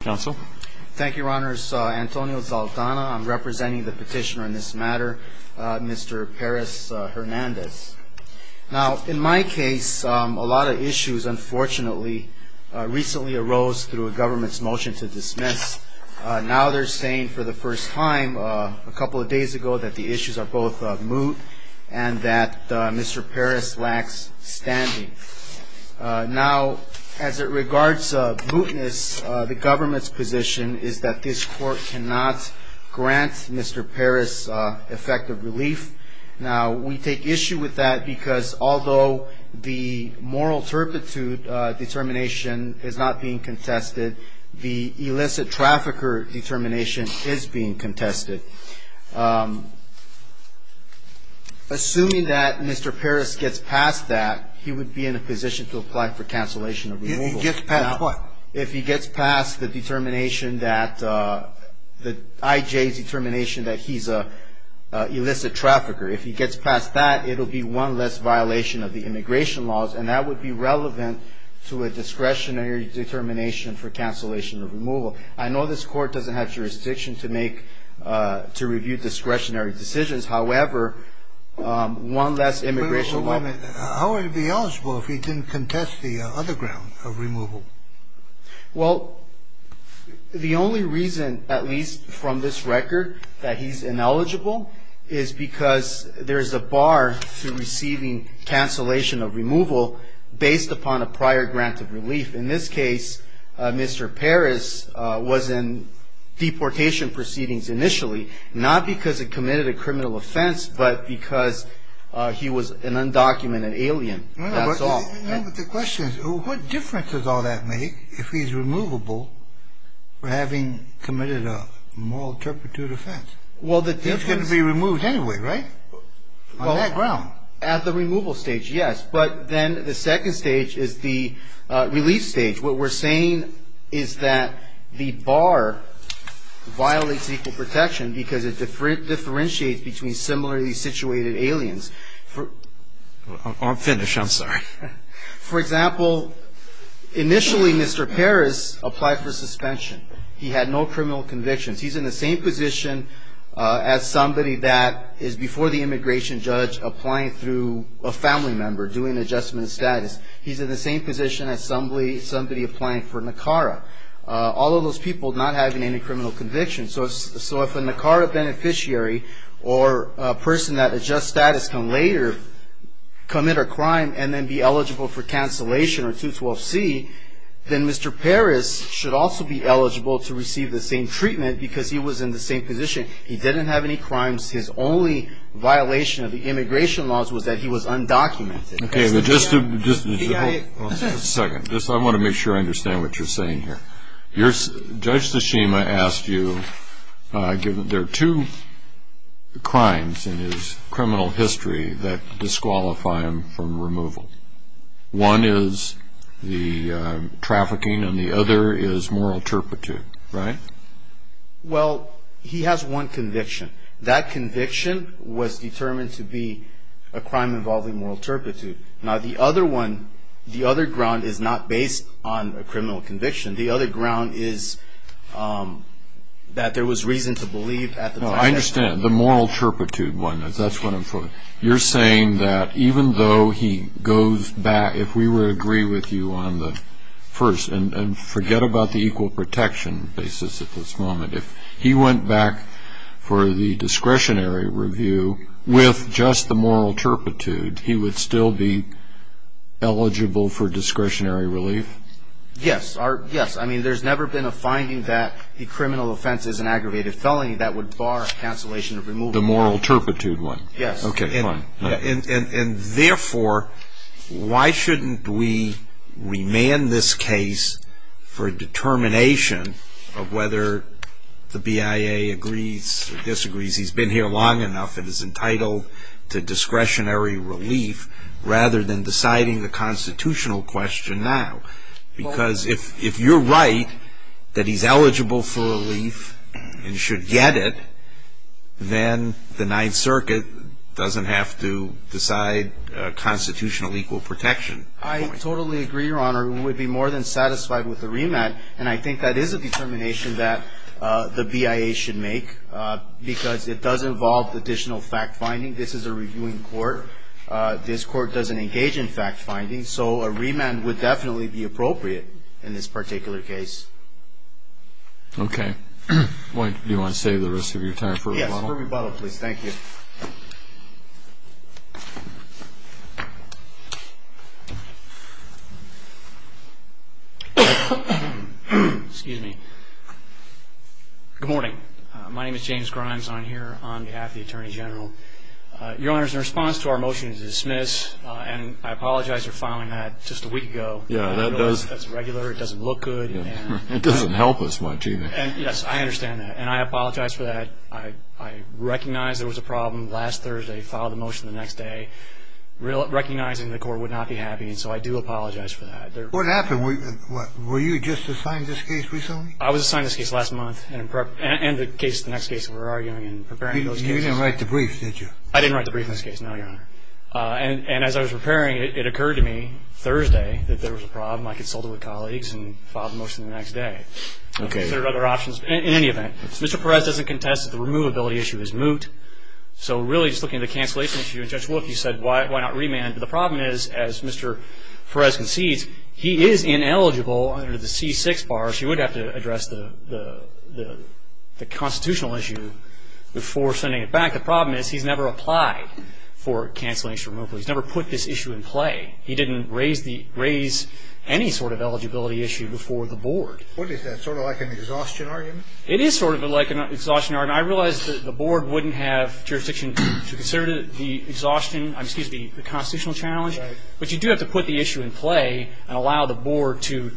Thank you, Your Honors. Antonio Zaltana, I'm representing the petitioner in this matter, Mr. Perez-Hernandez. Now, in my case, a lot of issues, unfortunately, recently arose through a government's motion to dismiss. Now they're saying for the first time, a couple of days ago, that the issues are both moot and that Mr. Perez lacks standing. Now, as it regards mootness, the government's position is that this court cannot grant Mr. Perez effective relief. Now, we take issue with that because although the moral turpitude determination is not being contested, the illicit trafficker determination is being contested. Assuming that Mr. Perez gets past that, he would be in a position to apply for cancellation of removal. If he gets past what? If he gets past the determination that, the IJ's determination that he's an illicit trafficker. If he gets past that, it'll be one less violation of the immigration laws, and that would be relevant to a discretionary determination for cancellation of removal. I know this court doesn't have jurisdiction to make, to review discretionary decisions. However, one less immigration law. Wait a moment. How would he be eligible if he didn't contest the other ground of removal? Well, the only reason, at least from this record, that he's ineligible, is because there's a bar to receiving cancellation of removal based upon a prior grant of relief. In this case, Mr. Perez was in deportation proceedings initially, not because he committed a criminal offense, but because he was an undocumented alien. That's all. No, but the question is, what difference does all that make if he's removable for having committed a moral turpitude offense? Well, the difference... He's going to be removed anyway, right? On that ground. At the removal stage, yes. But then the second stage is the relief stage. What we're saying is that the bar violates equal protection because it differentiates between similarly situated aliens. I'm finished. I'm sorry. For example, initially, Mr. Perez applied for suspension. He had no criminal convictions. He's in the same position as somebody that is before the immigration judge applying through a family member, doing adjustment of status. He's in the same position as somebody applying for NACARA. All of those people not having any criminal convictions. So if a NACARA beneficiary or a person that adjusts status can later commit a crime and then be eligible for cancellation or 212C, then Mr. Perez should also be eligible to receive the same treatment because he was in the same position. He didn't have any crimes. His only violation of the immigration laws was that he was undocumented. Okay. Just a second. I want to make sure I understand what you're saying here. Judge Tsushima asked you, there are two crimes in his criminal history that disqualify him from removal. One is the trafficking and the other is moral turpitude, right? Well, he has one conviction. That conviction was determined to be a crime involving moral turpitude. Now, the other one, the other ground is not based on a criminal conviction. The other ground is that there was reason to believe at the time. No, I understand. The moral turpitude one, that's what I'm talking about. You're saying that even though he goes back, if we were to agree with you on the first, and forget about the equal protection basis at this moment, if he went back for the discretionary review with just the moral turpitude, he would still be eligible for discretionary relief? Yes. I mean, there's never been a finding that a criminal offense is an aggravated felony that would bar cancellation of removal. The moral turpitude one? Yes. Okay, fine. And therefore, why shouldn't we remand this case for a determination of whether the BIA agrees or disagrees he's been here long enough and is entitled to discretionary relief rather than deciding the constitutional question now? Because if you're right that he's eligible for relief and should get it, then the Ninth Circuit doesn't have to decide constitutional equal protection. I totally agree, Your Honor. We would be more than satisfied with the remand, and I think that is a determination that the BIA should make because it does involve additional fact-finding. This is a reviewing court. This court doesn't engage in fact-finding, so a remand would definitely be appropriate in this particular case. Okay. Do you want to save the rest of your time for a rebuttal? Yes, for a rebuttal, please. Thank you. Excuse me. Good morning. My name is James Grimes, and I'm here on behalf of the Attorney General. Your Honor, in response to our motion to dismiss, and I apologize for filing that just a week ago. Yeah, that does. That's regular. It doesn't look good. It doesn't help us much either. Yes, I understand that, and I apologize for that. I recognize there was a problem last Thursday, filed the motion the next day, recognizing the court would not be happy, and so I do apologize for that. What happened? Were you just assigned this case recently? I was assigned this case last month, and the next case we're arguing and preparing those cases. You didn't write the brief, did you? I didn't write the brief in this case, no, Your Honor. And as I was preparing it, it occurred to me Thursday that there was a problem. I consulted with colleagues and filed the motion the next day. Okay. There are other options in any event. Mr. Perez doesn't contest that the removability issue is moot, so really just looking at the cancellation issue, Judge Wolff, you said, why not remand? But the problem is, as Mr. Perez concedes, he is ineligible under the C6 bar, so he would have to address the constitutional issue before sending it back. The problem is he's never applied for cancellation removal. He's never put this issue in play. He didn't raise any sort of eligibility issue before the board. What is that, sort of like an exhaustion argument? It is sort of like an exhaustion argument. I realize that the board wouldn't have jurisdiction to consider the exhaustion, excuse me, the constitutional challenge, but you do have to put the issue in play and allow the board to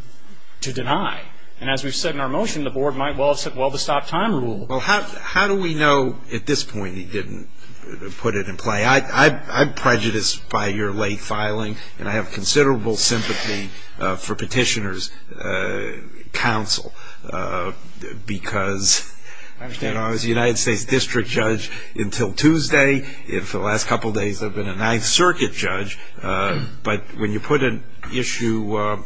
deny. And as we've said in our motion, the board might well have said, well, the stop time rule. Well, how do we know at this point he didn't put it in play? I'm prejudiced by your late filing, and I have considerable sympathy for Petitioner's counsel, because I was a United States district judge until Tuesday, and for the last couple of days I've been a Ninth Circuit judge. But when you put an issue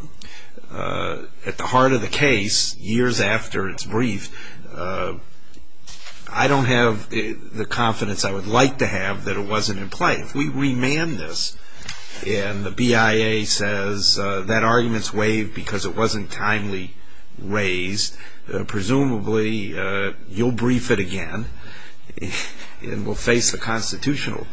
at the heart of the case years after its brief, I don't have the confidence I would like to have that it wasn't in play. If we remand this and the BIA says that argument's waived because it wasn't timely raised, presumably you'll brief it again and we'll face the constitutional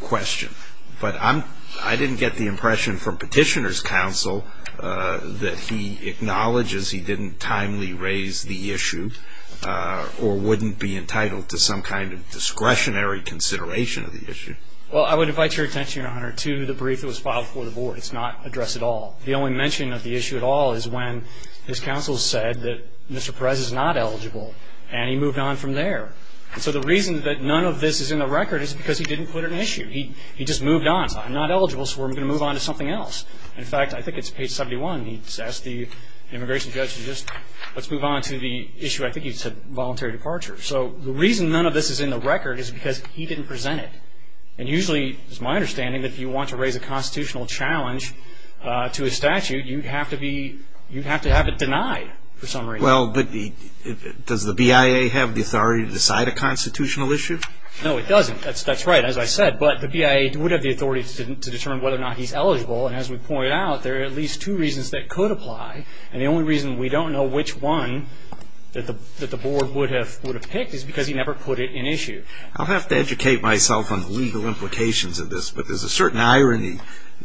question. But I didn't get the impression from Petitioner's counsel that he acknowledges he didn't timely raise the issue or wouldn't be entitled to some kind of discretionary consideration of the issue. Well, I would invite your attention, Your Honor, to the brief that was filed before the board. It's not addressed at all. The only mention of the issue at all is when his counsel said that Mr. Perez is not eligible, and he moved on from there. And so the reason that none of this is in the record is because he didn't put an issue. He just moved on. So I'm not eligible, so we're going to move on to something else. In fact, I think it's page 71. He says to the immigration judge, let's move on to the issue. I think he said voluntary departure. So the reason none of this is in the record is because he didn't present it. And usually it's my understanding that if you want to raise a constitutional challenge to a statute, you have to have it denied for some reason. Well, does the BIA have the authority to decide a constitutional issue? No, it doesn't. That's right, as I said. But the BIA would have the authority to determine whether or not he's eligible, and as we pointed out, there are at least two reasons that could apply. And the only reason we don't know which one that the board would have picked is because he never put it in issue. I'll have to educate myself on the legal implications of this, but there's a certain irony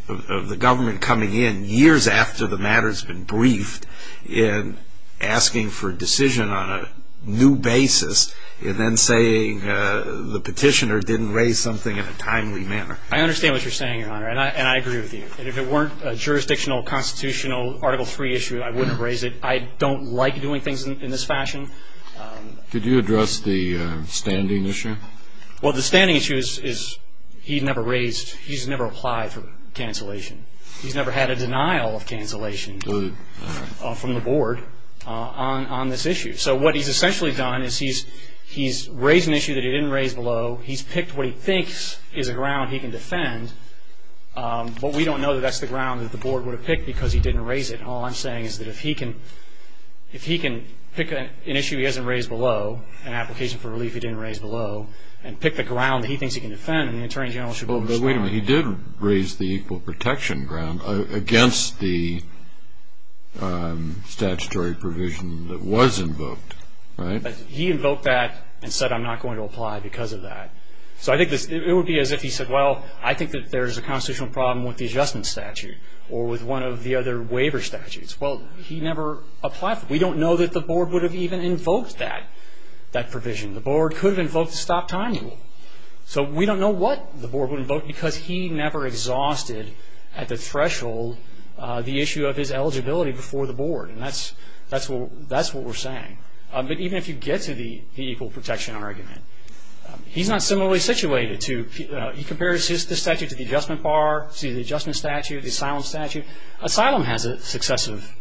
of the government coming in years after the matter's been briefed and asking for a decision on a new basis and then saying the petitioner didn't raise something in a timely manner. I understand what you're saying, Your Honor, and I agree with you. If it weren't a jurisdictional, constitutional, Article III issue, I wouldn't have raised it. I don't like doing things in this fashion. Could you address the standing issue? Well, the standing issue is he's never applied for cancellation. He's never had a denial of cancellation from the board on this issue. So what he's essentially done is he's raised an issue that he didn't raise below. He's picked what he thinks is a ground he can defend, but we don't know that that's the ground that the board would have picked because he didn't raise it. All I'm saying is that if he can pick an issue he hasn't raised below, an application for relief he didn't raise below, and pick the ground that he thinks he can defend, then the attorney general should be able to respond. But wait a minute. He did raise the equal protection ground against the statutory provision that was invoked, right? But he invoked that and said, I'm not going to apply because of that. So I think it would be as if he said, well, I think that there's a constitutional problem with the adjustment statute or with one of the other waiver statutes. Well, he never applied for it. We don't know that the board would have even invoked that provision. The board could have invoked the stop time rule. So we don't know what the board would invoke because he never exhausted, at the threshold, the issue of his eligibility before the board, and that's what we're saying. But even if you get to the equal protection argument, he's not similarly situated to, he compares the statute to the adjustment bar, to the adjustment statute, the asylum statute. Asylum has a successive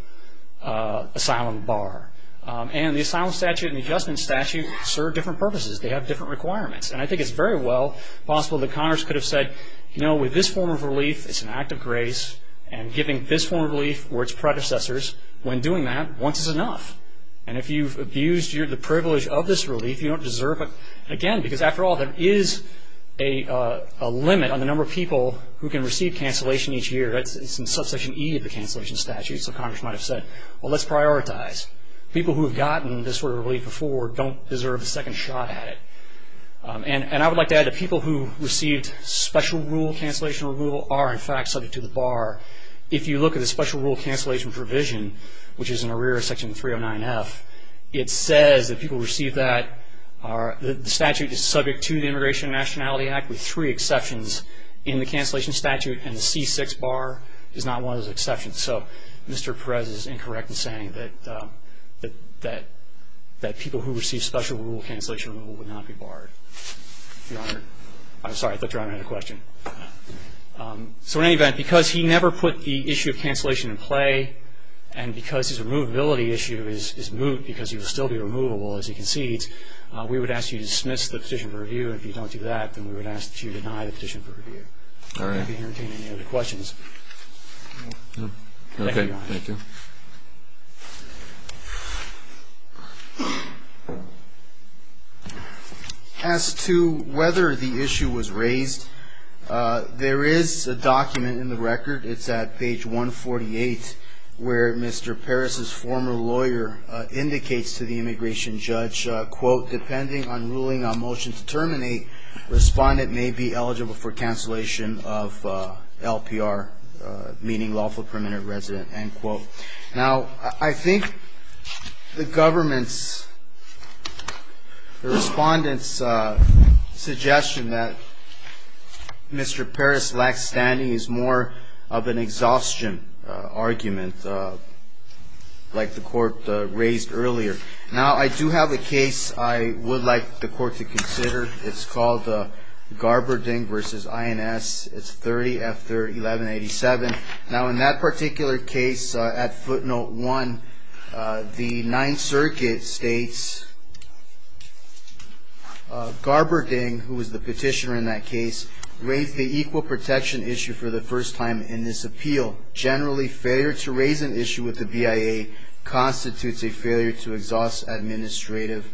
asylum bar. And the asylum statute and the adjustment statute serve different purposes. They have different requirements. And I think it's very well possible that Congress could have said, you know, with this form of relief, it's an act of grace, and giving this form of relief or its predecessors, when doing that, once is enough. And if you've abused the privilege of this relief, you don't deserve it. Again, because after all, there is a limit on the number of people who can receive cancellation each year. It's in subsection E of the cancellation statute. So Congress might have said, well, let's prioritize. People who have gotten this sort of relief before don't deserve a second shot at it. And I would like to add that people who received special rule cancellation or removal are, in fact, subject to the bar. If you look at the special rule cancellation provision, which is in the rear of Section 309F, it says that people who receive that are, the statute is subject to the Immigration and Nationality Act with three exceptions in the cancellation statute, and the C6 bar is not one of those exceptions. So Mr. Perez is incorrect in saying that people who receive special rule cancellation or removal would not be barred. Your Honor. So in any event, because he never put the issue of cancellation in play, and because his removability issue is moot because he will still be removable as he concedes, we would ask you to dismiss the petition for review. And if you don't do that, then we would ask that you deny the petition for review. All right. I'm happy to entertain any other questions. Thank you, Your Honor. Thank you. As to whether the issue was raised, there is a document in the record, it's at page 148, where Mr. Perez's former lawyer indicates to the immigration judge, quote, depending on ruling on motion to terminate, respondent may be eligible for cancellation of LPR, meaning lawful permanent resident, end quote. Now, I think the government's, the respondent's suggestion that Mr. Perez lacks standing is more of an exhaustion argument, like the court raised earlier. Now, I do have a case I would like the court to consider. It's called Garberding v. INS. It's 30 after 1187. Now, in that particular case, at footnote one, the Ninth Circuit states, Garberding, who was the petitioner in that case, raised the equal protection issue for the first time in this appeal. Generally, failure to raise an issue with the BIA constitutes a failure to exhaust administrative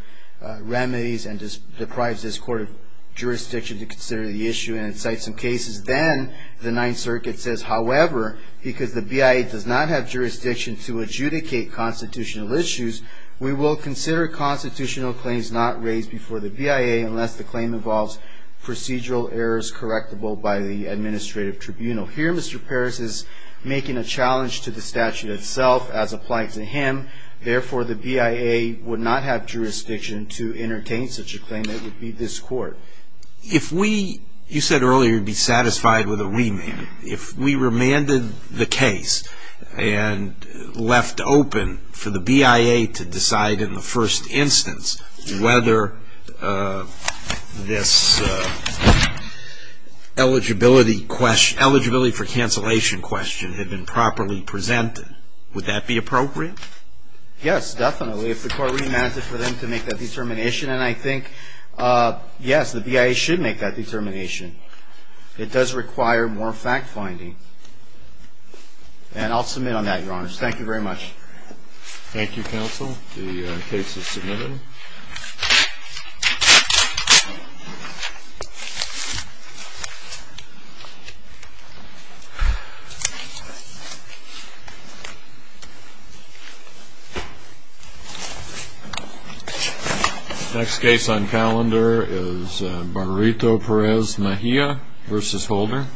remedies and deprives this court of jurisdiction to consider the issue and cite some cases. Then, the Ninth Circuit says, however, because the BIA does not have jurisdiction to adjudicate constitutional issues, we will consider constitutional claims not raised before the BIA unless the claim involves procedural errors correctable by the administrative tribunal. Here, Mr. Perez is making a challenge to the statute itself as applied to him. Therefore, the BIA would not have jurisdiction to entertain such a claim. It would be this court. You said earlier you'd be satisfied with a remand. If we remanded the case and left open for the BIA to decide in the first instance whether this eligibility for cancellation question had been properly presented, would that be appropriate? Yes, definitely, if the court remanded for them to make that determination. And I think, yes, the BIA should make that determination. It does require more fact-finding. And I'll submit on that, Your Honors. Thank you very much. Thank you, Counsel. The case is submitted. Next case on calendar is Barberito-Perez-Mejia v. Holder.